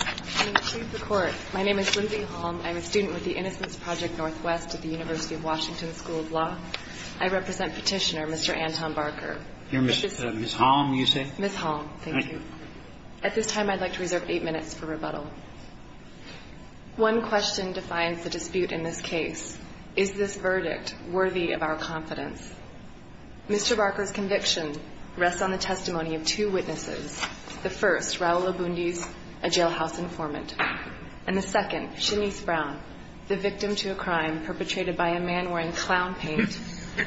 I'm a student with the Innocence Project Northwest at the University of Washington School of Law. I represent petitioner Mr. Anton Barker. You're Ms. Halm, you say? Ms. Halm, thank you. At this time, I'd like to reserve eight minutes for rebuttal. One question defines the dispute in this case. Is this verdict worthy of our confidence? Mr. Barker's conviction rests on the testimony of two witnesses. The first, Raul Obundis, a jailhouse informant. And the second, Shanice Brown, the victim to a crime perpetrated by a man wearing clown paint,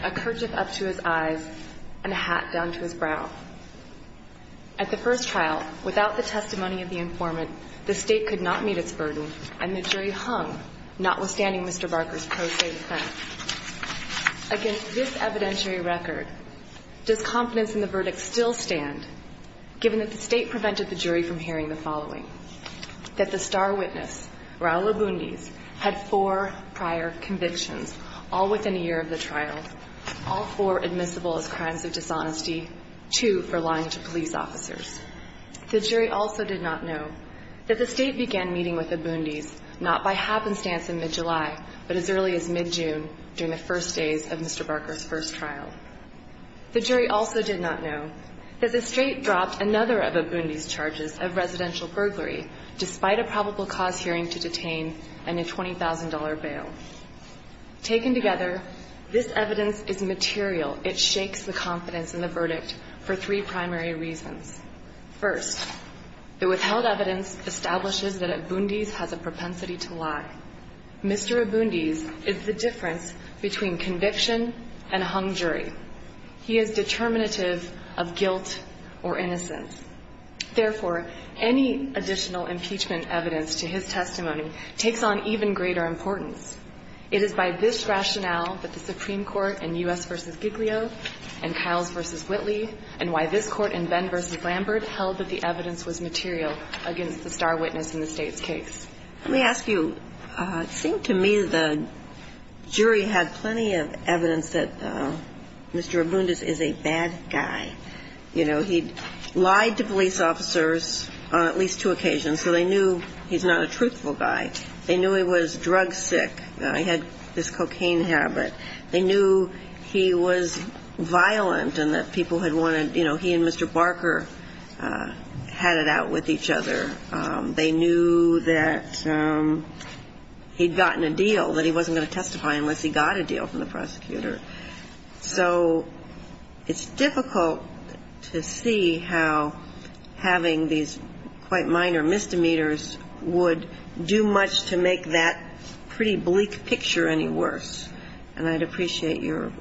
a kerchief up to his eyes and a hat down to his brow. At the first trial, without the testimony of the informant, the state could not meet its burden, and the jury hung, notwithstanding Mr. Barker's pro se defense. Against this evidentiary record, does confidence in the verdict still stand, given that the state prevented the jury from hearing the following? That the star witness, Raul Obundis, had four prior convictions, all within a year of the trial, all four admissible as crimes of dishonesty, two for lying to police officers. The jury also did not know that the state began meeting with Obundis not by happenstance in mid-July, but as early as mid-June during the first days of Mr. Barker's first trial. The jury also did not know that the state dropped another of Obundis' charges of residential burglary, despite a probable cause hearing to detain and a $20,000 bail. Taken together, this evidence is material. It shakes the confidence in the verdict for three primary reasons. First, the withheld evidence establishes that Obundis has a propensity to lie. Mr. Obundis is the difference between conviction and a hung jury. He is determinative of guilt or innocence. Therefore, any additional impeachment evidence to his testimony takes on even greater importance. It is by this rationale that the Supreme Court in U.S. v. Giglio and Kyles v. Whitley and why this Court in Benn v. Lambert held that the evidence was material against the star witness in the State's case. Let me ask you, it seemed to me the jury had plenty of evidence that Mr. Obundis is a bad guy. You know, he lied to police officers on at least two occasions, so they knew he's not a truthful guy. They knew he was drug sick. He had this cocaine habit. They knew he was violent and that people had wanted, you know, he and Mr. Barker had it out with each other. They knew that he'd gotten a deal, that he wasn't going to testify unless he got a deal from the prosecutor. So it's difficult to see how having these quite minor misdemeanors would do much to make that pretty bleak picture any worse. And I'd appreciate your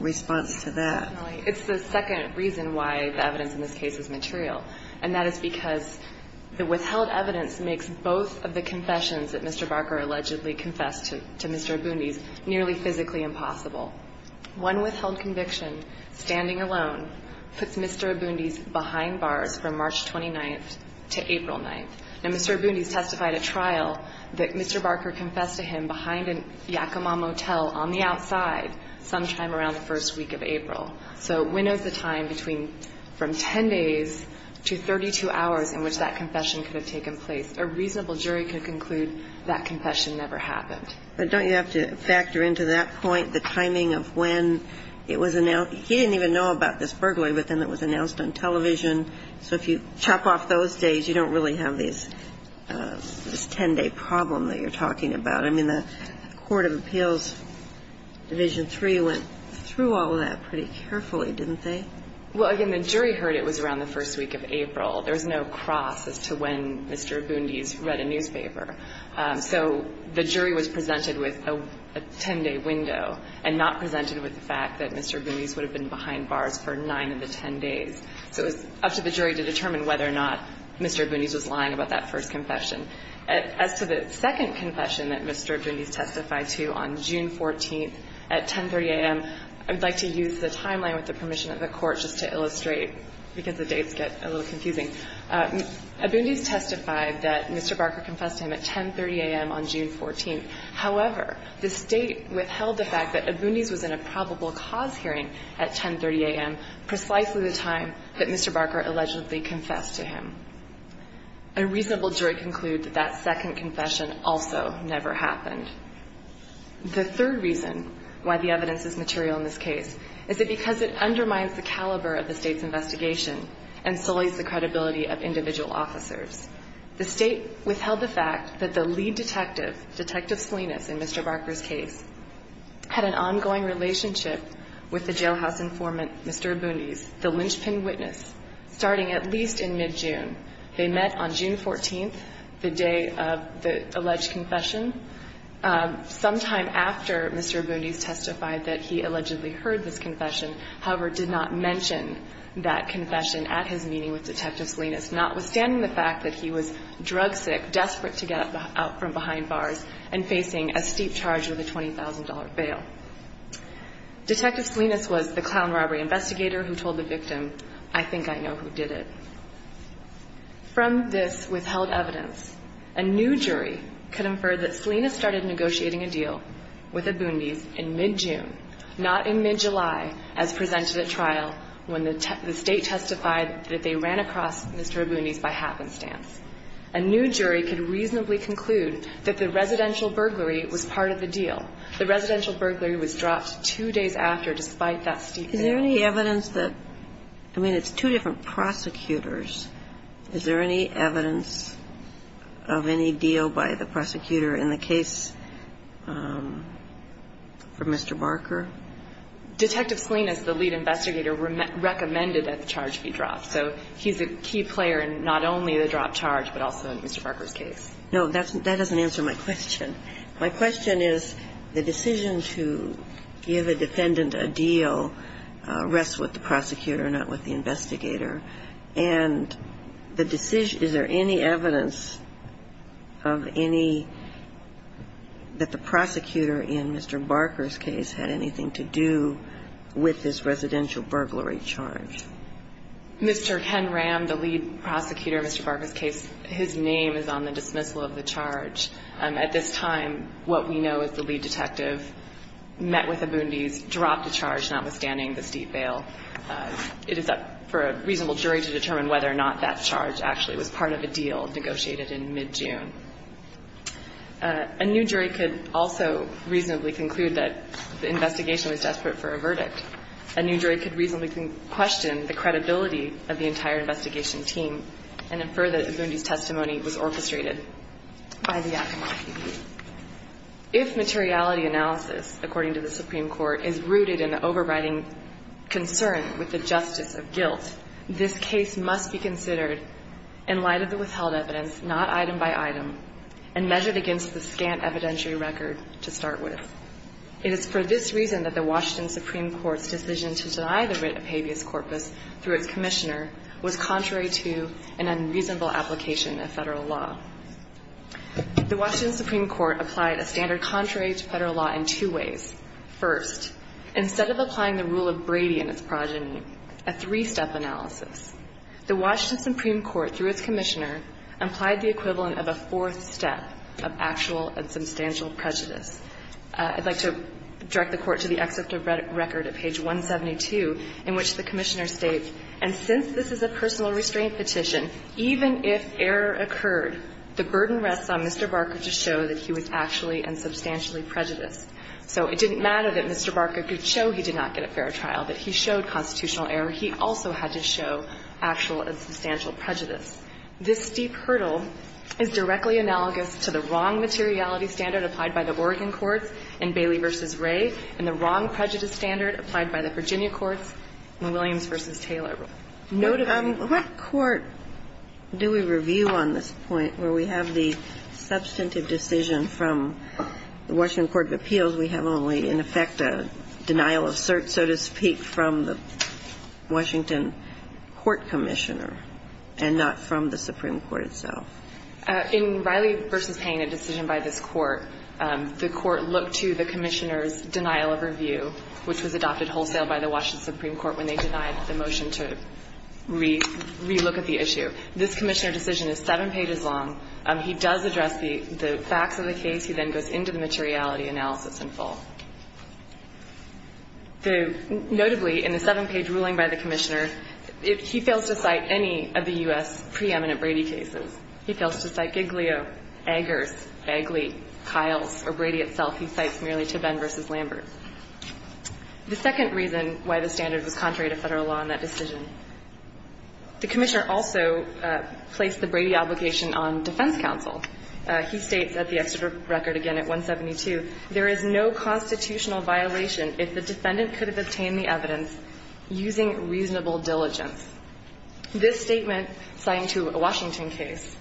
response to that. It's the second reason why the evidence in this case is material, and that is because the withheld evidence makes both of the confessions that Mr. Barker allegedly confessed to Mr. Obundis nearly physically impossible. One withheld conviction, standing alone, puts Mr. Obundis behind bars from March 29th to April 9th. Now, Mr. Obundis testified at trial that Mr. Barker confessed to him behind a Yakima motel on the outside sometime around the first week of April. So it winnows the time between from 10 days to 32 hours in which that confession could have taken place. A reasonable jury could conclude that confession never happened. But don't you have to factor into that point the timing of when it was announced? He didn't even know about this burglary, but then it was announced on television. So if you chop off those days, you don't really have this 10-day problem that you're talking about. I mean, the Court of Appeals Division III went through all of that pretty carefully, didn't they? Well, again, the jury heard it was around the first week of April. There was no cross as to when Mr. Obundis read a newspaper. So the jury was presented with a 10-day window and not presented with the fact that Mr. Obundis would have been behind bars for 9 of the 10 days. So it was up to the jury to determine whether or not Mr. Obundis was lying about that first confession. As to the second confession that Mr. Obundis testified to on June 14th at 10.30 a.m., I would like to use the timeline with the permission of the Court just to illustrate because the dates get a little confusing. Obundis testified that Mr. Barker confessed to him at 10.30 a.m. on June 14th. However, this date withheld the fact that Obundis was in a probable cause hearing at 10.30 a.m., precisely the time that Mr. Barker allegedly confessed to him. A reasonable jury concluded that second confession also never happened. The third reason why the evidence is material in this case is that because it undermines the caliber of the State's investigation and sullies the credibility of individual officers. The State withheld the fact that the lead detective, Detective Salinas, in Mr. Barker's case, had an ongoing relationship with the jailhouse informant, Mr. Obundis, the linchpin witness, starting at least in mid-June. They met on June 14th, the day of the alleged confession. Sometime after Mr. Obundis testified that he allegedly heard this confession, however, did not mention that confession at his meeting with Detective Salinas, notwithstanding the fact that he was drug sick, desperate to get up from behind bars, and facing a steep charge with a $20,000 bail. Detective Salinas was the clown robbery investigator who told the victim, I think I know who did it. From this withheld evidence, a new jury could infer that Salinas started negotiating a deal with Obundis in mid-June, not in mid-July, as presented at trial when the State testified that they ran across Mr. Obundis by happenstance. A new jury could reasonably conclude that the residential burglary was part of the deal. The residential burglary was dropped two days after, despite that steep bail. Is there any evidence that – I mean, it's two different prosecutors. Is there any evidence of any deal by the prosecutor in the case for Mr. Barker? Detective Salinas, the lead investigator, recommended that the charge be dropped. So he's a key player in not only the dropped charge, but also in Mr. Barker's case. No, that doesn't answer my question. My question is, the decision to give a defendant a deal rests with the prosecutor, not with the investigator. And the decision – is there any evidence of any – that the prosecutor in Mr. Barker's case had anything to do with this residential burglary charge? Mr. Ken Ram, the lead prosecutor in Mr. Barker's case, his name is on the dismissal of the charge. At this time, what we know is the lead detective met with Abundes, dropped the charge, notwithstanding the steep bail. It is up for a reasonable jury to determine whether or not that charge actually was part of a deal negotiated in mid-June. A new jury could also reasonably conclude that the investigation was desperate for a verdict. A new jury could reasonably question the credibility of the entire investigation team and infer that Abundes' testimony was orchestrated by the Yakima PD. If materiality analysis, according to the Supreme Court, is rooted in an overriding concern with the justice of guilt, this case must be considered in light of the withheld evidence, not item by item, and measured against the scant evidentiary record to start with. It is for this reason that the Washington Supreme Court's decision to deny the writ of habeas corpus through its commissioner was contrary to an unreasonable application of Federal law. The Washington Supreme Court applied a standard contrary to Federal law in two ways. First, instead of applying the rule of Brady and its progeny, a three-step analysis, the Washington Supreme Court, through its commissioner, applied the equivalent of a fourth step of actual and substantial prejudice. I'd like to direct the Court to the excerpt of record at page 172, in which the commissioner states, and since this is a personal restraint petition, even if error occurred, the burden rests on Mr. Barker to show that he was actually and substantially prejudiced. So it didn't matter that Mr. Barker could show he did not get a fair trial, that he showed constitutional error. He also had to show actual and substantial prejudice. This steep hurdle is directly analogous to the wrong materiality standard applied by the Oregon courts in Bailey v. Ray and the wrong prejudice standard applied by the Virginia courts in Williams v. Taylor. Notably. What court do we review on this point where we have the substantive decision from the Washington Court of Appeals we have only, in effect, a denial of cert, so to speak, from the Washington court commissioner and not from the Supreme Court itself? In Riley v. Payne, a decision by this court, the court looked to the commissioner's denial of review, which was adopted wholesale by the Washington Supreme Court when they denied the motion to re-look at the issue. This commissioner decision is seven pages long. He does address the facts of the case. He then goes into the materiality analysis in full. Notably, in the seven-page ruling by the commissioner, he fails to cite any of the U.S. preeminent Brady cases. He fails to cite Giglio, Eggers, Eggley, Kiles, or Brady itself. He cites merely Tobin v. Lambert. The second reason why the standard was contrary to Federal law in that decision, the commissioner also placed the Brady obligation on defense counsel. He states at the exeter record again at 172, there is no constitutional violation if the defendant could have obtained the evidence using reasonable diligence. This statement, citing to a Washington case,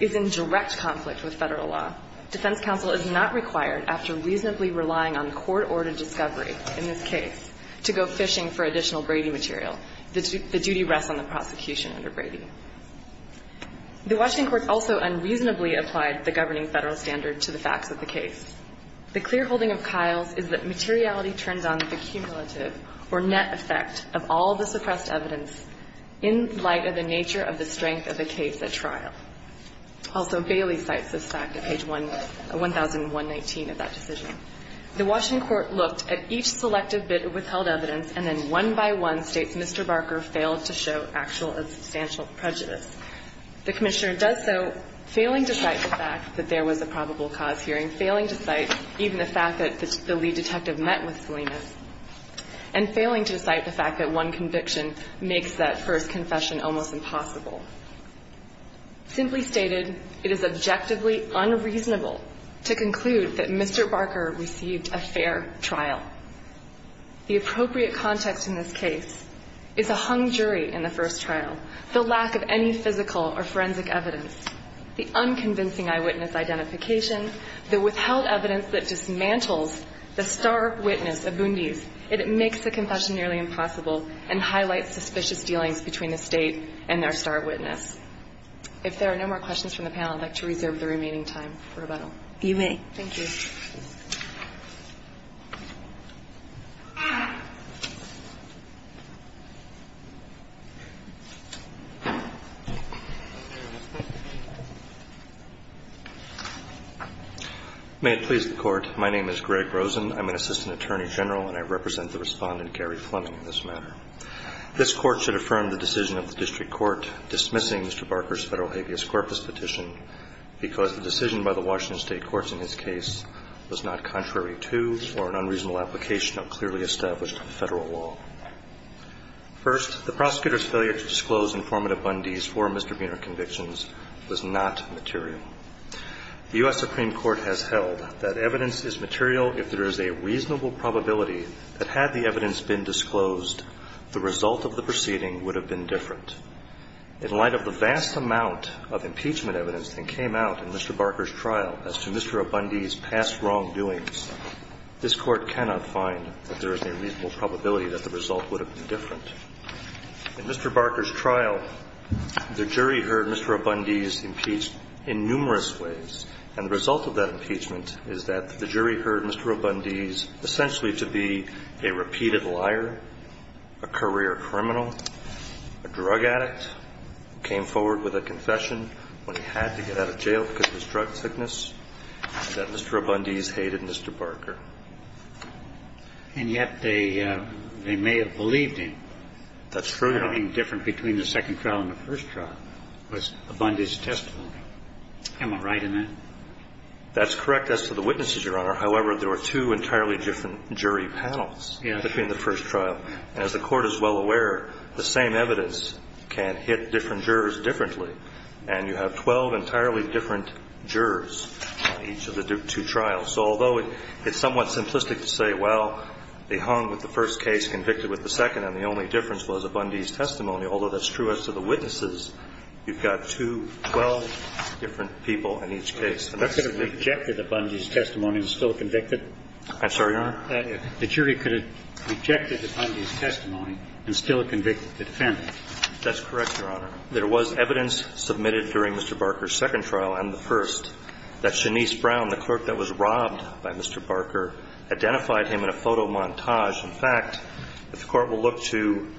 is in direct conflict with Federal law. Defense counsel is not required, after reasonably relying on court-ordered discovery in this case, to go fishing for additional Brady material. The duty rests on the prosecution under Brady. The Washington court also unreasonably applied the governing Federal standard to the facts of the case. The clear holding of Kiles is that materiality turns on the cumulative or net effect of all the suppressed evidence in light of the nature of the strength of the case at trial. Also, Bailey cites this fact at page 1, 1019 of that decision. The Washington court looked at each selective bit of withheld evidence and then one by one states Mr. Barker failed to show actual or substantial prejudice. The commissioner does so, failing to cite the fact that there was a probable cause hearing, failing to cite even the fact that the lead detective met with Salinas, and failing to cite the fact that one conviction makes that first confession almost impossible. Simply stated, it is objectively unreasonable to conclude that Mr. Barker received a fair trial. The appropriate context in this case is a hung jury in the first trial, the lack of any physical or forensic evidence, the unconvincing eyewitness identification, the withheld evidence that dismantles the star witness of Bundy's. It makes the confession nearly impossible and highlights suspicious dealings between the State and their star witness. If there are no more questions from the panel, I'd like to reserve the remaining time for rebuttal. You may. Thank you. May it please the Court. My name is Greg Rosen. I'm an assistant attorney general and I represent the Respondent Gary Fleming in this matter. This Court should affirm the decision of the district court dismissing Mr. Barker's petition because the decision by the Washington State courts in his case was not contrary to or an unreasonable application of clearly established federal law. First, the prosecutor's failure to disclose informative Bundy's for Mr. Buehner convictions was not material. The U.S. Supreme Court has held that evidence is material if there is a reasonable probability that had the evidence been disclosed, the result of the proceeding would have been different. In light of the vast amount of impeachment evidence that came out in Mr. Barker's trial as to Mr. O'Bundy's past wrongdoings, this Court cannot find that there is a reasonable probability that the result would have been different. In Mr. Barker's trial, the jury heard Mr. O'Bundy's impeached in numerous ways, and the result of that impeachment is that the jury heard Mr. O'Bundy's essentially to be a repeated liar, a career criminal, a drug addict who came forward with a confession when he had to get out of jail because of his drug sickness that Mr. O'Bundy's hated Mr. Barker. And yet they may have believed him. That's true. Nothing different between the second trial and the first trial was O'Bundy's testimony. That's correct as to the witnesses, Your Honor. However, there were two entirely different jury panels between the first trial. And as the Court is well aware, the same evidence can hit different jurors differently. And you have 12 entirely different jurors on each of the two trials. So although it's somewhat simplistic to say, well, they hung with the first case, convicted with the second, and the only difference was O'Bundy's testimony, although that's true as to the witnesses. You've got two, 12 different people in each case. That could have rejected O'Bundy's testimony and still convicted. I'm sorry, Your Honor? The jury could have rejected O'Bundy's testimony and still convicted the defendant. That's correct, Your Honor. There was evidence submitted during Mr. Barker's second trial and the first that Shanice Brown, the clerk that was robbed by Mr. Barker, identified him in a photo montage. In fact, if the Court will look to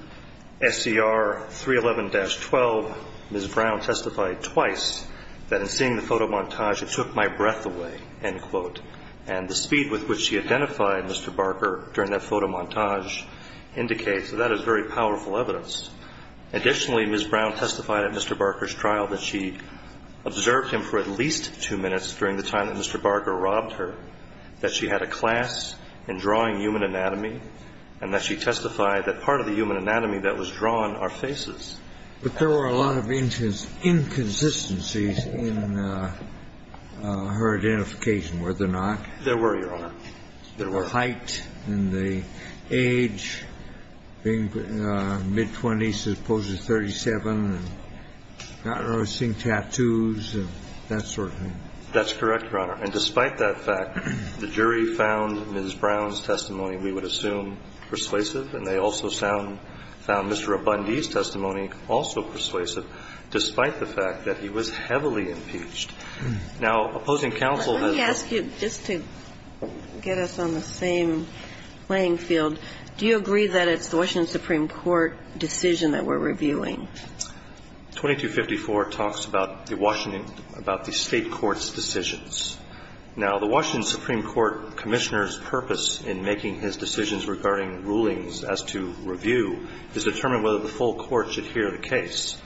SCR 311-12, Ms. Brown testified twice that in the photo montage, it took my breath away, end quote. And the speed with which she identified Mr. Barker during that photo montage indicates that that is very powerful evidence. Additionally, Ms. Brown testified at Mr. Barker's trial that she observed him for at least two minutes during the time that Mr. Barker robbed her, that she had a class in drawing human anatomy, and that she testified that part of the human anatomy that was drawn are faces. But there were a lot of inconsistencies in her identification, were there not? There were, Your Honor. There were. The height and the age, being mid-20s as opposed to 37, not noticing tattoos and that sort of thing. That's correct, Your Honor. And despite that fact, the jury found Ms. Brown's testimony, we would assume, persuasive. And they also found Mr. Abundee's testimony also persuasive, despite the fact that he was heavily impeached. Now, opposing counsel has a ---- Let me ask you, just to get us on the same playing field, do you agree that it's the Washington Supreme Court decision that we're reviewing? 2254 talks about the Washington ---- about the State court's decisions. Now, the Washington Supreme Court Commissioner's purpose in making his decisions regarding rulings as to review is to determine whether the full court should hear the case.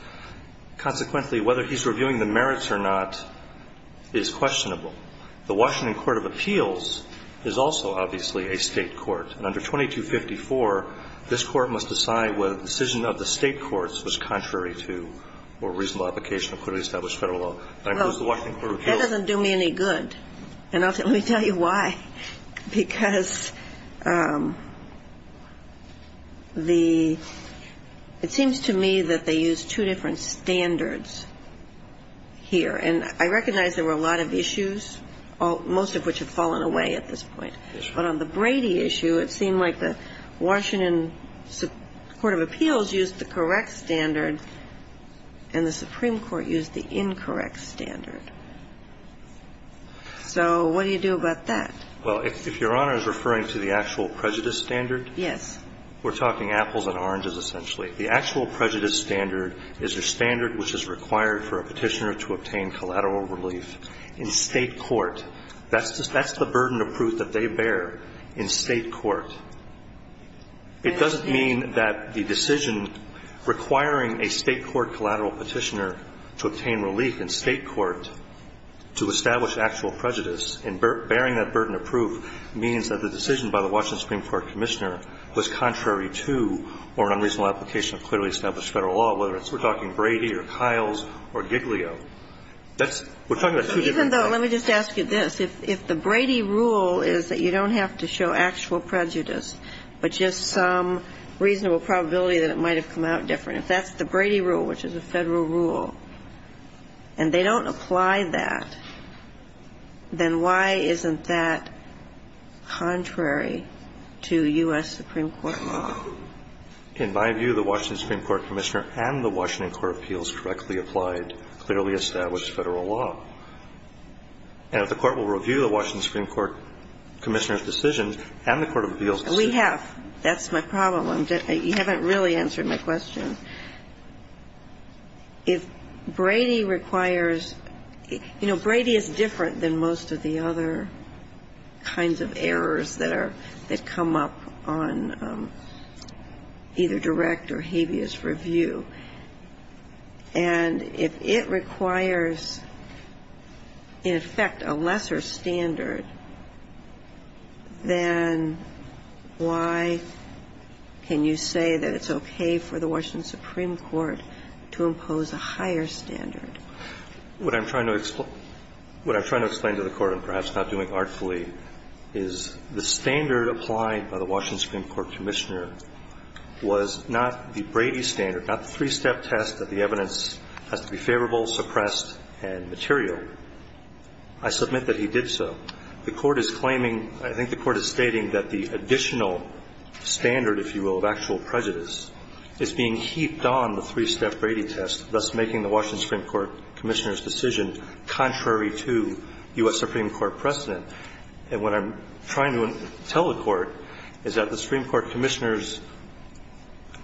Consequently, whether he's reviewing the merits or not is questionable. The Washington Court of Appeals is also, obviously, a State court. And under 2254, this Court must decide whether the decision of the State courts was contrary to or reasonable application of clearly established Federal law. Now, does the Washington Court of Appeals ---- Well, that doesn't do me any good. And let me tell you why. Because the ---- it seems to me that they use two different standards here. And I recognize there were a lot of issues, most of which have fallen away at this point. Yes, Your Honor. But on the Brady issue, it seemed like the Washington Court of Appeals used the correct standard and the Supreme Court used the incorrect standard. So what do you do about that? Well, if Your Honor is referring to the actual prejudice standard ---- Yes. We're talking apples and oranges, essentially. The actual prejudice standard is your standard which is required for a Petitioner to obtain collateral relief in State court. That's the burden of proof that they bear in State court. It doesn't mean that the decision requiring a State court collateral Petitioner to obtain relief in State court to establish actual prejudice and bearing that burden of proof means that the decision by the Washington Supreme Court Commissioner was contrary to or unreasonable application of clearly established Federal law, whether it's we're talking Brady or Kyles or Giglio. Even though, let me just ask you this. If the Brady rule is that you don't have to show actual prejudice but just some reasonable probability that it might have come out different, if that's the Brady rule, which is a Federal rule, and they don't apply that, then why isn't that contrary to U.S. Supreme Court law? In my view, the Washington Supreme Court Commissioner and the Washington Court of Appeals correctly applied clearly established Federal law. And if the Court will review the Washington Supreme Court Commissioner's decision and the Court of Appeals decision. We have. That's my problem. You haven't really answered my question. If Brady requires – you know, Brady is different than most of the other kinds of errors that are – that come up on either direct or habeas review. And if it requires, in effect, a lesser standard, then why can you say that it's okay for the Washington Supreme Court to impose a higher standard? What I'm trying to explain to the Court, and perhaps not doing artfully, is the standard applied by the Washington Supreme Court Commissioner was not the Brady standard, not the three-step test that the evidence has to be favorable, suppressed, and material. I submit that he did so. The Court is claiming – I think the Court is stating that the additional standard, if you will, of actual prejudice is being heaped on the three-step Brady test, thus making the Washington Supreme Court Commissioner's decision contrary to U.S. Supreme Court precedent. And what I'm trying to tell the Court is that the Supreme Court Commissioner's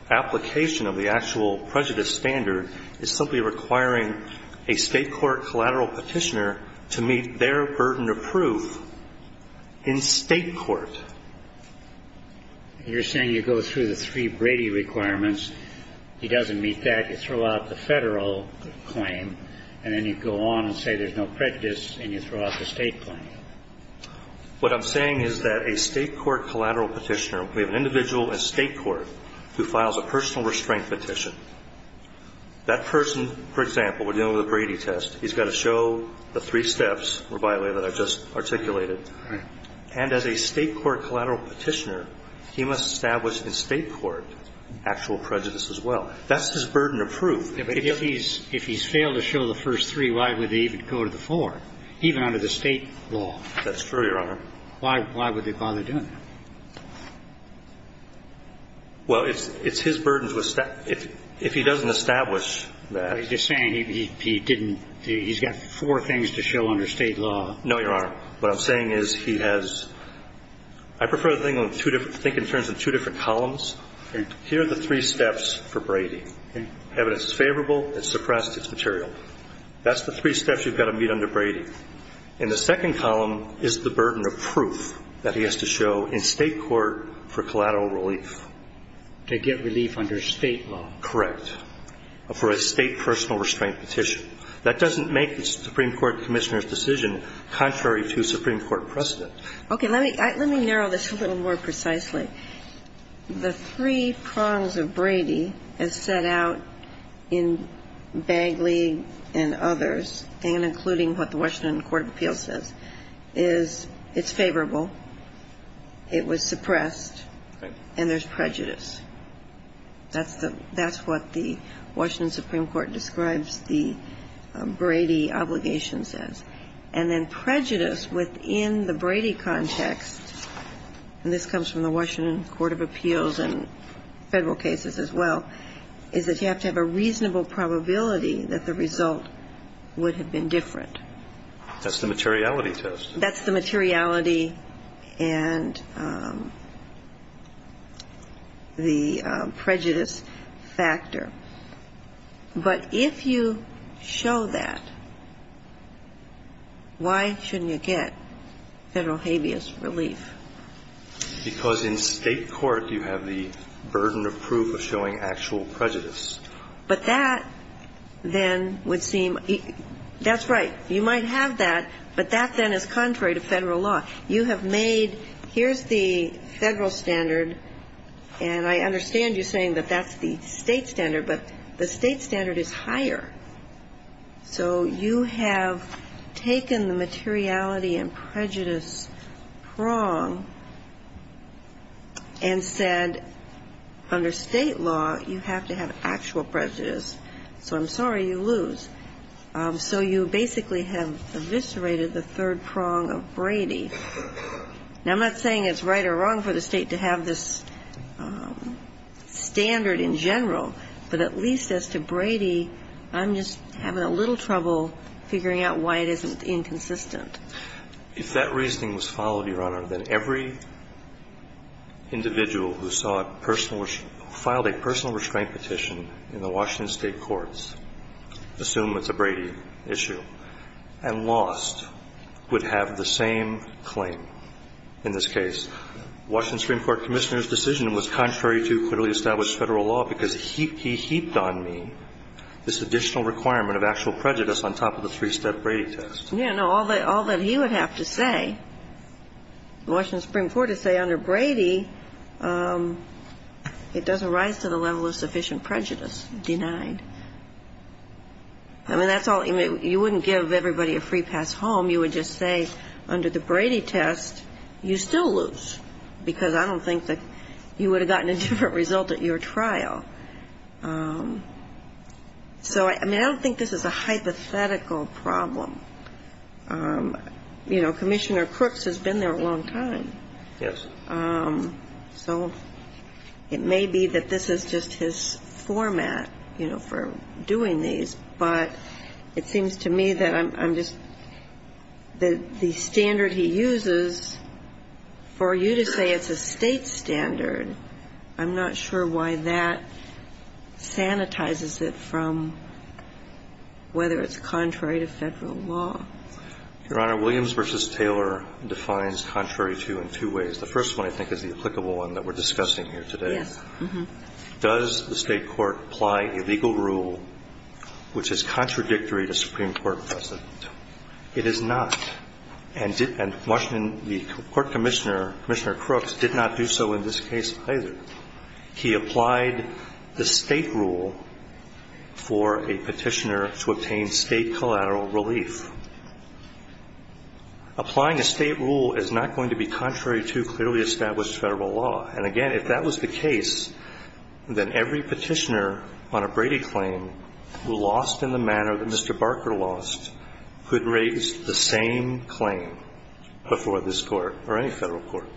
application of the actual prejudice standard is simply requiring a State court collateral Petitioner to meet their burden of proof in State court. You're saying you go through the three Brady requirements, he doesn't meet that, you throw out the Federal claim, and then you go on and say there's no prejudice and you throw out the State claim. What I'm saying is that a State court collateral Petitioner, we have an individual in State court who files a personal restraint petition. That person, for example, we're dealing with a Brady test. He's got to show the three steps, by the way, that I just articulated. Right. And as a State court collateral Petitioner, he must establish in State court actual prejudice as well. That's his burden of proof. If he's failed to show the first three, why would he even go to the four, even under the State law? That's true, Your Honor. Why would they bother doing that? Well, it's his burden to establish. If he doesn't establish that he's got four things to show under State law. No, Your Honor. What I'm saying is he has – I prefer to think in terms of two different columns. Here are the three steps for Brady. Evidence is favorable. It's suppressed. It's material. That's the three steps you've got to meet under Brady. And the second column is the burden of proof that he has to show in State court for collateral relief. To get relief under State law. Correct. For a State personal restraint petition. That doesn't make the Supreme Court Commissioner's decision contrary to Supreme Court precedent. Okay. Let me narrow this a little more precisely. The three prongs of Brady as set out in Bagley and others, and including what the Washington Court of Appeals says, is it's favorable, it was suppressed, and there's prejudice. That's the – that's what the Washington Supreme Court describes the Brady obligation says. And then prejudice within the Brady context, and this comes from the Washington Court of Appeals and Federal cases as well, is that you have to have a reasonable probability that the result would have been different. That's the materiality test. That's the materiality and the prejudice factor. But if you show that, why shouldn't you get Federal habeas relief? Because in State court you have the burden of proof of showing actual prejudice. But that then would seem – that's right. You might have that, but that then is contrary to Federal law. You have made, here's the Federal standard, and I understand you saying that that's the State standard, but the State standard is higher. So you have taken the materiality and prejudice prong and said, under State law, you have to have actual prejudice. So I'm sorry, you lose. So you basically have eviscerated the third prong of Brady. Now, I'm not saying it's right or wrong for the State to have this standard in general, but at least as to Brady, I'm just having a little trouble figuring out why it isn't inconsistent. If that reasoning was followed, Your Honor, then every individual who saw a personal – who filed a personal restraint petition in the Washington State courts, assume it's a Brady issue, and lost, would have the same claim in this case. Washington Supreme Court Commissioner's decision was contrary to clearly established Federal law because he heaped on me this additional requirement of actual prejudice on top of the three-step Brady test. Yeah, no. All that he would have to say, Washington Supreme Court would say under Brady, it doesn't rise to the level of sufficient prejudice denied. I mean, that's all. You wouldn't give everybody a free pass home. You would just say under the Brady test, you still lose because I don't think that you would have gotten a different result at your trial. So, I mean, I don't think this is a hypothetical problem. You know, Commissioner Crooks has been there a long time. Yes. So it may be that this is just his format, you know, for doing these, but it seems to me that I'm just – that the standard he uses for you to say it's a State standard, I'm not sure why that sanitizes it from whether it's contrary to Federal law. Your Honor, Williams v. Taylor defines contrary to in two ways. The first one, I think, is the applicable one that we're discussing here today. Yes. Does the State court apply a legal rule which is contradictory to Supreme Court precedent? It is not. And Washington, the Court Commissioner, Commissioner Crooks, did not do so in this case either. He applied the State rule for a Petitioner to obtain State collateral relief. Applying a State rule is not going to be contrary to clearly established Federal law. And, again, if that was the case, then every Petitioner on a Brady claim who lost in the manner that Mr. Barker lost could raise the same claim before this Court or any Federal court.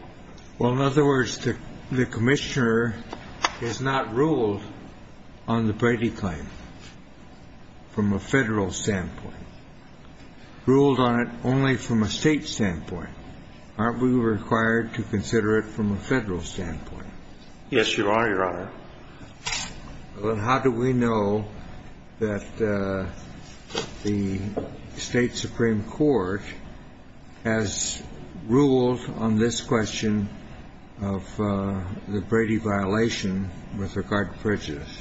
Well, in other words, the Commissioner has not ruled on the Brady claim from a Federal standpoint. He ruled on it only from a State standpoint. Aren't we required to consider it from a Federal standpoint? Yes, you are, Your Honor. Well, how do we know that the State supreme court has ruled on this question of the Brady violation with regard to prejudice?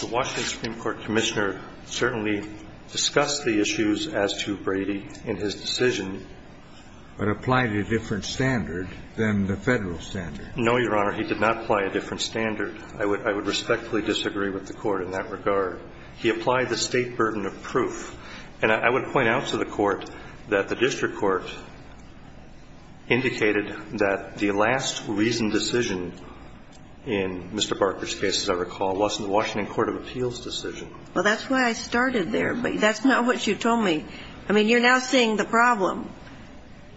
The Washington Supreme Court Commissioner certainly discussed the issues as to Brady in his decision. But applied a different standard than the Federal standard. No, Your Honor. He did not apply a different standard. I would respectfully disagree with the Court in that regard. He applied the State burden of proof. And I would point out to the Court that the district court indicated that the last reasoned decision in Mr. Barker's case, as I recall, wasn't the Washington court of appeals decision. Well, that's why I started there. But that's not what you told me. I mean, you're now seeing the problem.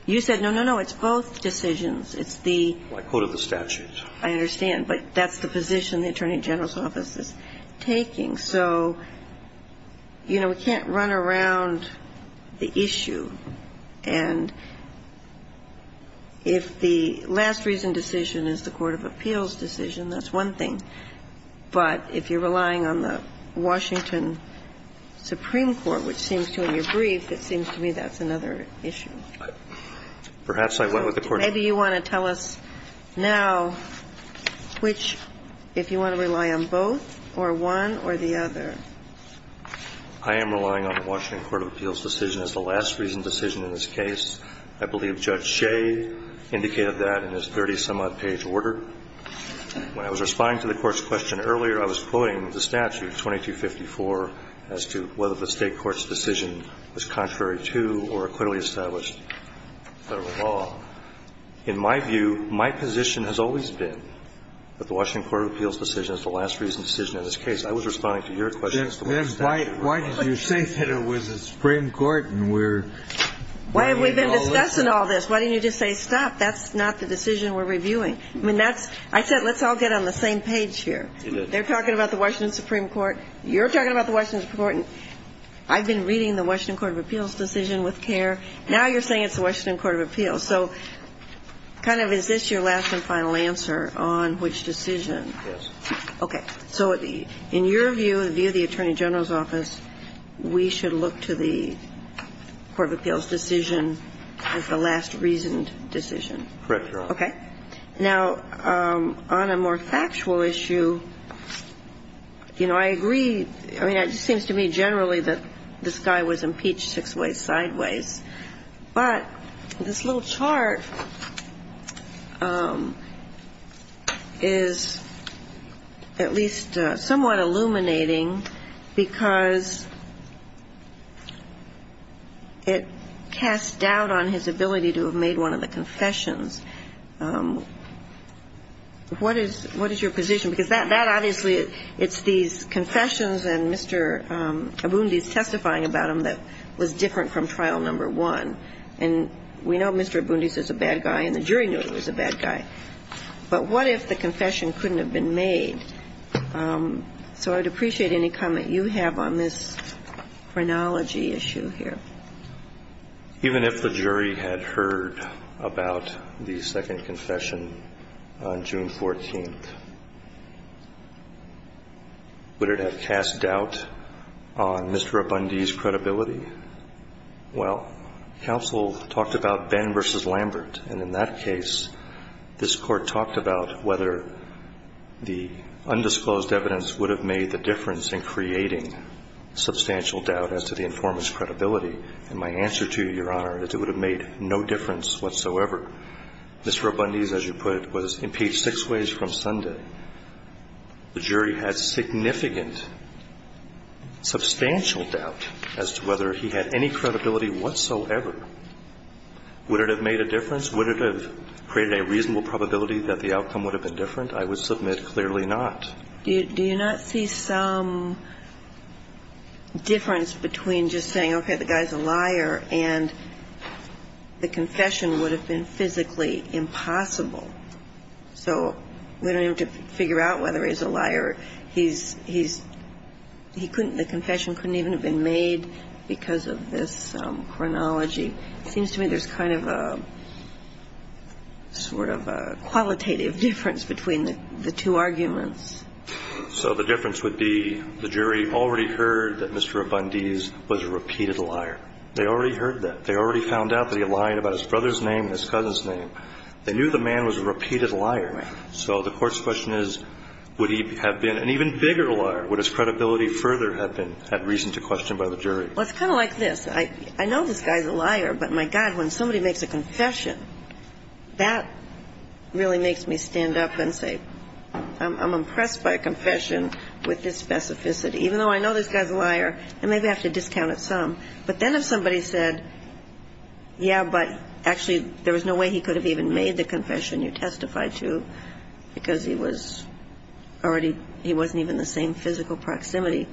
You said, no, no, no, it's both decisions. It's the ---- I quoted the statute. I understand. But that's the position the Attorney General's office is taking. So, you know, we can't run around the issue. And if the last reasoned decision is the court of appeals decision, that's one thing. But if you're relying on the Washington Supreme Court, which seems to in your brief, it seems to me that's another issue. Perhaps I went with the court of appeals. Maybe you want to tell us now which, if you want to rely on both, or one or the other. I am relying on the Washington court of appeals decision as the last reasoned decision in this case. I believe Judge Shea indicated that in his 30-some-odd-page order. When I was responding to the Court's question earlier, I was quoting the statute, 2254, as to whether the State court's decision was contrary to or equitably established federal law. In my view, my position has always been that the Washington court of appeals decision is the last reasoned decision in this case. I was responding to your question. Why did you say that it was the Supreme Court? Why have we been discussing all this? Why didn't you just say stop? That's not the decision we're reviewing. I said let's all get on the same page here. They're talking about the Washington Supreme Court. You're talking about the Washington Supreme Court. I've been reading the Washington court of appeals decision with care. Now you're saying it's the Washington court of appeals. So kind of is this your last and final answer on which decision? Yes. Okay. So in your view, in view of the Attorney General's office, we should look to the court of appeals decision as the last reasoned decision? Correct, Your Honor. Okay. Now, on a more factual issue, you know, I agree. I mean, it just seems to me generally that this guy was impeached six ways sideways. But this little chart is at least somewhat illuminating because it casts doubt on his ability to have made one of the confessions. What is your position? Because that obviously, it's these confessions and Mr. Abundis testifying about them that was different from trial number one. And we know Mr. Abundis is a bad guy and the jury knew he was a bad guy. But what if the confession couldn't have been made? So I would appreciate any comment you have on this chronology issue here. Even if the jury had heard about the second confession on June 14th, would it have cast doubt on Mr. Abundis' credibility? Well, counsel talked about Benn v. Lambert. And in that case, this Court talked about whether the undisclosed evidence would have made the difference in creating substantial doubt as to the And my answer to you, Your Honor, is it would have made no difference whatsoever. Mr. Abundis, as you put it, was impeached six ways from Sunday. The jury had significant substantial doubt as to whether he had any credibility whatsoever. Would it have made a difference? Would it have created a reasonable probability that the outcome would have been different? I would submit clearly not. Do you not see some difference between just saying, okay, the guy's a liar and the confession would have been physically impossible? So we don't have to figure out whether he's a liar. He's he's he couldn't the confession couldn't even have been made because of this chronology. It seems to me there's kind of a sort of a qualitative difference between the two arguments. So the difference would be the jury already heard that Mr. Abundis was a repeated liar. They already heard that. They already found out that he lied about his brother's name and his cousin's name. They knew the man was a repeated liar. So the Court's question is, would he have been an even bigger liar? Would his credibility further have been had reason to question by the jury? Well, it's kind of like this. I know this guy's a liar. But, my God, when somebody makes a confession, that really makes me stand up and say, I'm impressed by a confession with this specificity. Even though I know this guy's a liar, I maybe have to discount it some. But then if somebody said, yeah, but actually there was no way he could have even made the confession you testified to because he was already a repeated liar. He was a repeated liar. He wasn't even the same physical proximity.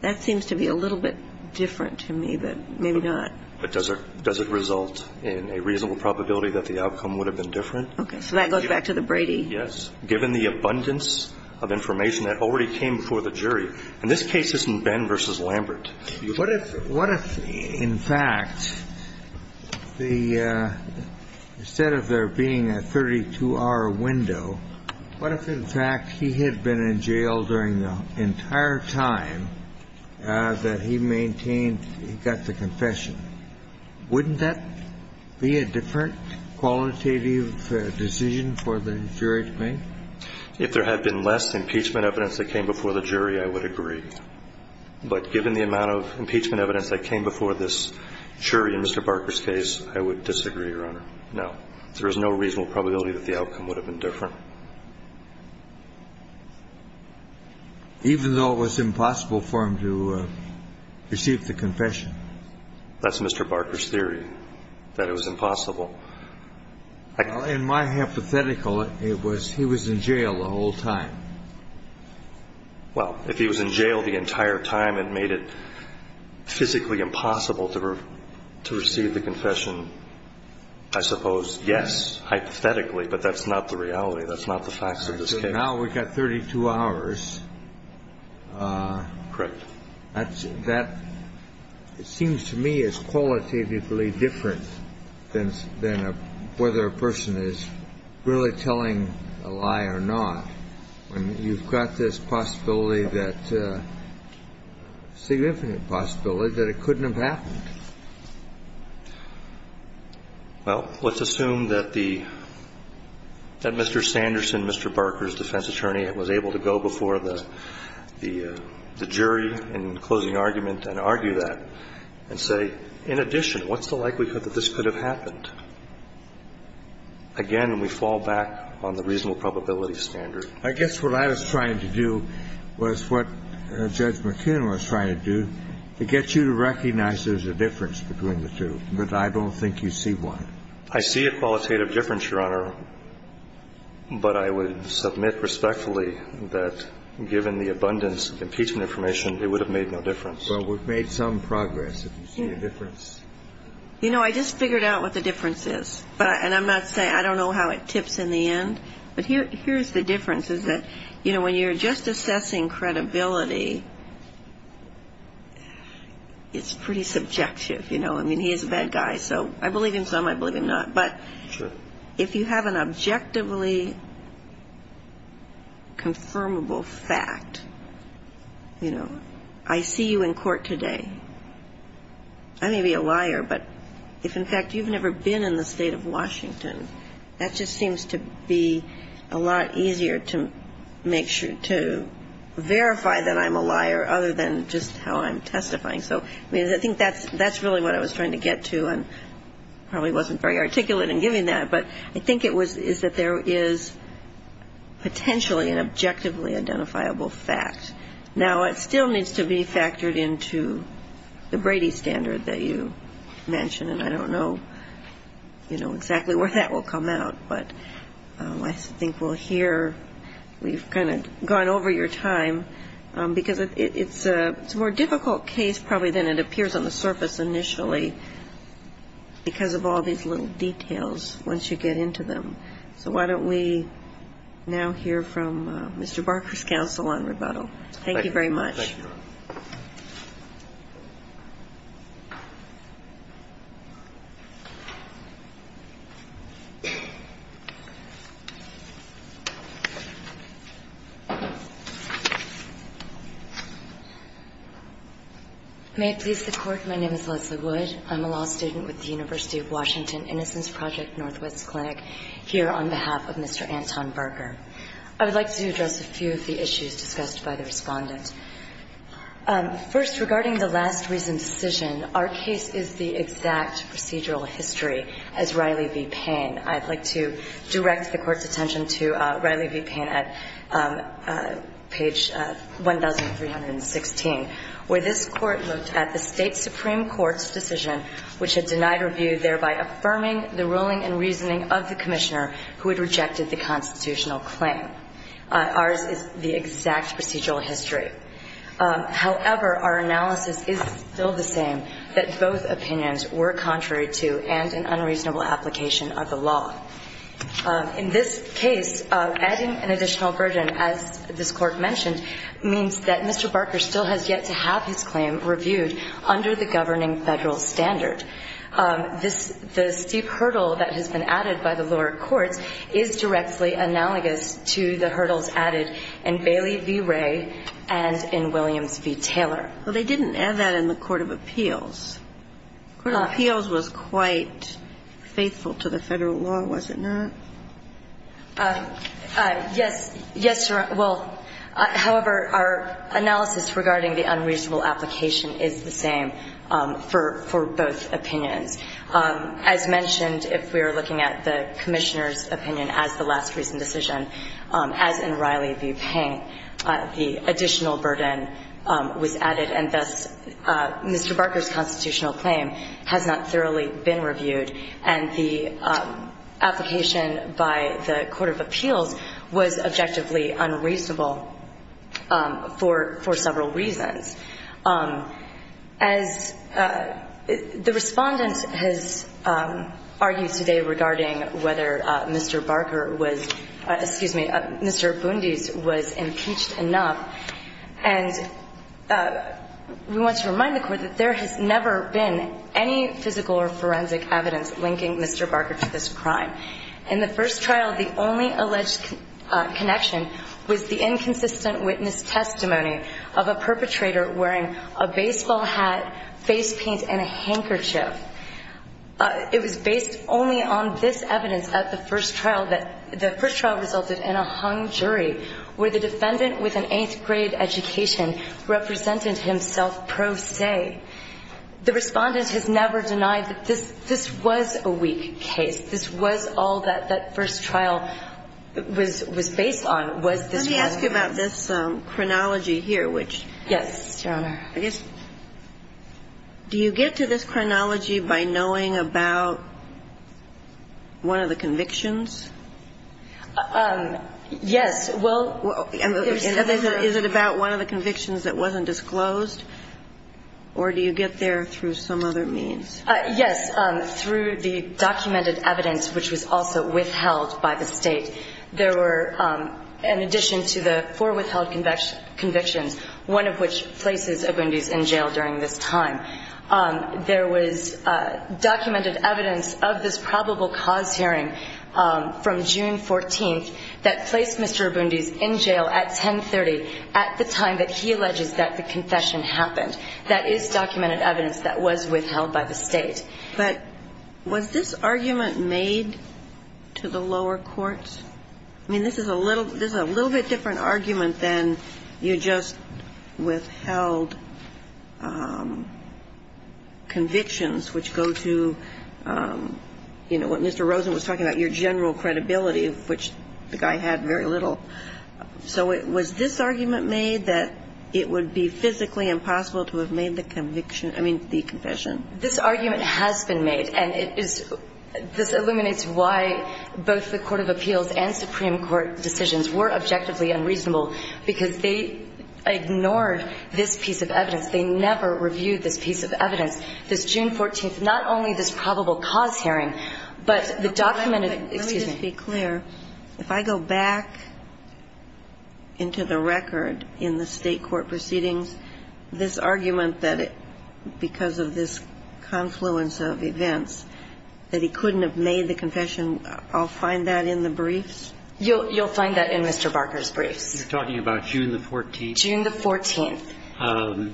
That seems to be a little bit different to me, but maybe not. Okay. But does it result in a reasonable probability that the outcome would have been different? Okay. So that goes back to the Brady. Yes. Given the abundance of information that already came before the jury, and this case isn't Ben v. Lambert. What if, in fact, instead of there being a 32-hour window, what if, in fact, he had been in jail during the entire time that he maintained he got the confession? Wouldn't that be a different qualitative decision for the jury to make? If there had been less impeachment evidence that came before the jury, I would agree. But given the amount of impeachment evidence that came before this jury in Mr. Barker's case, I would disagree, Your Honor. No. There is no reasonable probability that the outcome would have been different. Even though it was impossible for him to receive the confession? That's Mr. Barker's theory, that it was impossible. In my hypothetical, he was in jail the whole time. Well, if he was in jail the entire time and made it physically impossible to receive the confession, I suppose, yes, hypothetically. But that's not the reality. That's not the facts of this case. So now we've got 32 hours. Correct. That, it seems to me, is qualitatively different than whether a person is really telling a lie or not, when you've got this possibility that, significant possibility, that it couldn't have happened. Well, let's assume that the, that Mr. Sanderson, Mr. Barker's defense attorney, was able to go before the jury in closing argument and argue that and say, in addition, what's the likelihood that this could have happened? Again, we fall back on the reasonable probability standard. I guess what I was trying to do was what Judge McKeon was trying to do, to get you to recognize there's a difference between the two. But I don't think you see one. I see a qualitative difference, Your Honor. But I would submit respectfully that, given the abundance of impeachment information, it would have made no difference. Well, we've made some progress, if you see a difference. You know, I just figured out what the difference is. And I'm not saying, I don't know how it tips in the end. But here's the difference, is that, you know, when you're just assessing credibility, it's pretty subjective, you know. I mean, he is a bad guy, so I believe him some, I believe him not. But if you have an objectively confirmable fact, you know, I see you in court today. I may be a liar, but if, in fact, you've never been in the state of Washington, that just seems to be a lot easier to verify that I'm a liar, other than just how I'm testifying. So, I mean, I think that's really what I was trying to get to, and probably wasn't very articulate in giving that. But I think it was, is that there is potentially an objectively identifiable fact. Now, it still needs to be factored into the Brady standard that you mentioned, and I don't know, you know, exactly where that will come out. But I think we'll hear, we've kind of gone over your time, because it's a more difficult case probably than it appears on the surface initially, because of all these little details once you get into them. So why don't we now hear from Mr. Barker's counsel on rebuttal. Thank you very much. Thank you, Your Honor. May it please the Court, my name is Leslie Wood. I'm a law student with the University of Washington Innocence Project Northwest Clinic here on behalf of Mr. Anton Barker. I would like to address a few of the issues discussed by the Respondent. First, regarding the last reasoned decision, our case is the exact procedural history as Riley v. Payne. I'd like to direct the Court's attention to Riley v. Payne at page 1316, where this Court looked at the State Supreme Court's decision which had denied review, thereby affirming the ruling and reasoning of the Commissioner who had rejected the constitutional claim. Ours is the exact procedural history. However, our analysis is still the same, that both opinions were contrary to and an unreasonable application of the law. In this case, adding an additional burden, as this Court mentioned, means that Mr. Barker still has yet to have his claim reviewed under the governing federal standard. The steep hurdle that has been added by the lower courts is directly analogous to the hurdles added in Bailey v. Ray and in Williams v. Taylor. Well, they didn't add that in the Court of Appeals. The Court of Appeals was quite faithful to the federal law, was it not? Yes. Yes, Your Honor. Well, however, our analysis regarding the unreasonable application is the same for both opinions. As mentioned, if we are looking at the Commissioner's opinion as the last reasoned decision, as in Riley v. Payne, the additional burden was added, and thus Mr. Barker's constitutional claim has not thoroughly been reviewed, and the application by the Court of Appeals was objectively unreasonable for several reasons. As the Respondent has argued today regarding whether Mr. Barker was — excuse me, Mr. Bundy's was impeached enough, and we want to remind the Court that there has never been any physical or forensic evidence linking Mr. Barker to this crime. In the first trial, the only alleged connection was the inconsistent witness testimony of a perpetrator wearing a baseball hat, face paint, and a handkerchief. It was based only on this evidence at the first trial that the first trial resulted in a hung jury, where the defendant with an eighth-grade education represented himself pro se. The Respondent has never denied that this was a weak case. This was all that that first trial was based on, was this one. Let me ask you about this chronology here, which — Yes, Your Honor. Do you get to this chronology by knowing about one of the convictions? Yes. Is it about one of the convictions that wasn't disclosed, or do you get there through some other means? Yes, through the documented evidence, which was also withheld by the State. There were, in addition to the four withheld convictions, one of which places Obundis in jail during this time, there was documented evidence of this probable cause hearing from June 14th that placed Mr. Obundis in jail at 1030, at the time that he alleges that the confession happened. That is documented evidence that was withheld by the State. But was this argument made to the lower courts? I mean, this is a little — this is a little bit different argument than you just withheld convictions, which go to, you know, what Mr. Rosen was talking about, your general credibility, which the guy had very little. So was this argument made that it would be physically impossible to have made the conviction — I mean, the confession? This argument has been made, and it is — this illuminates why both the court of appeals and Supreme Court decisions were objectively unreasonable, because they ignored this piece of evidence. They never reviewed this piece of evidence. This June 14th, not only this probable cause hearing, but the documented — Let me just be clear. If I go back into the record in the State court proceedings, this argument that because of this confluence of events that he couldn't have made the confession, I'll find that in the briefs? You'll find that in Mr. Barker's briefs. You're talking about June the 14th? June the 14th.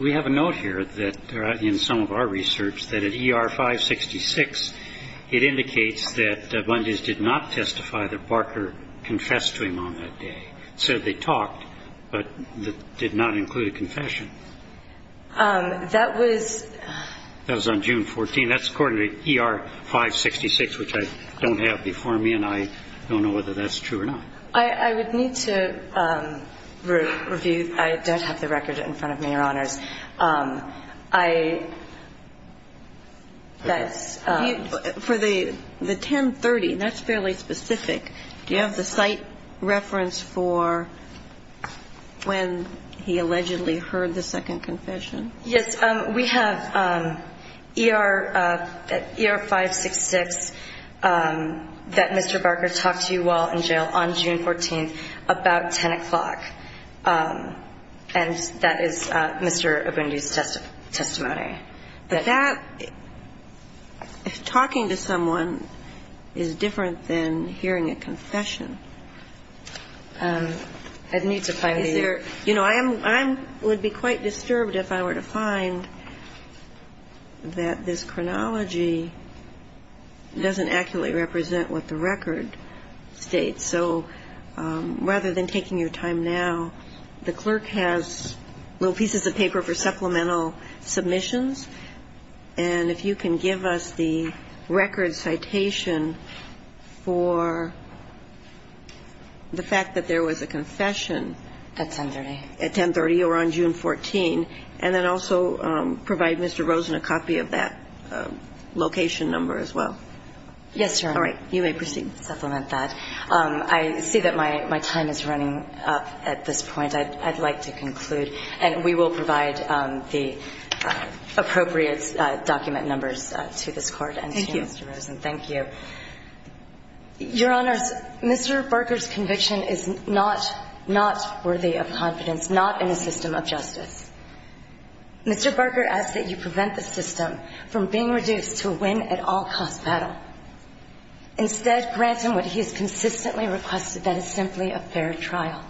We have a note here that in some of our research that at ER 566, it indicates that Bundy's did not testify that Barker confessed to him on that day. It said they talked, but that did not include a confession. That was — That was on June 14th. That's according to ER 566, which I don't have before me, and I don't know whether that's true or not. I would need to review. I don't have the record in front of me, Your Honors. That's — For the 1030, that's fairly specific. Do you have the site reference for when he allegedly heard the second confession? Yes. We have ER 566 that Mr. Barker talked to while in jail on June 14th about 10 o'clock, and that is Mr. Bundy's testimony. But that — talking to someone is different than hearing a confession. I'd need to find the — I would be quite disturbed if I were to find that this chronology doesn't accurately represent what the record states. So rather than taking your time now, the clerk has little pieces of paper for supplemental submissions, and if you can give us the record citation for the fact that there was a confession at 1030 or on June 14, and then also provide Mr. Rosen a copy of that location number as well. Yes, Your Honor. All right. You may proceed. I'll supplement that. I see that my time is running up at this point. I'd like to conclude, and we will provide the appropriate document numbers to this Court and to Mr. Rosen. Thank you. Thank you. Your Honors, Mr. Barker's conviction is not — not worthy of confidence, not in a system of justice. Mr. Barker asks that you prevent the system from being reduced to a win-at-all-cost battle. Instead, grant him what he has consistently requested, that it's simply a fair trial.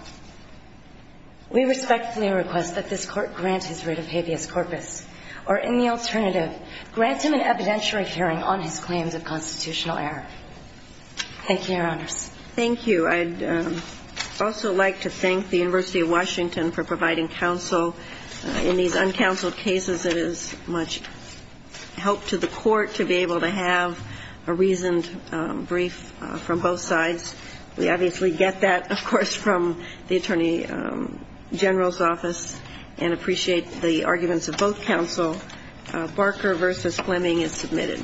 We respectfully request that this Court grant his writ of habeas corpus, or in the alternative, grant him an evidentiary hearing on his claims of constitutional error. Thank you, Your Honors. Thank you. I'd also like to thank the University of Washington for providing counsel in these uncounseled cases. It is much help to the Court to be able to have a reasoned brief from both sides. We obviously get that, of course, from the Attorney General's office and appreciate the arguments of both counsel. Barker v. Fleming is submitted.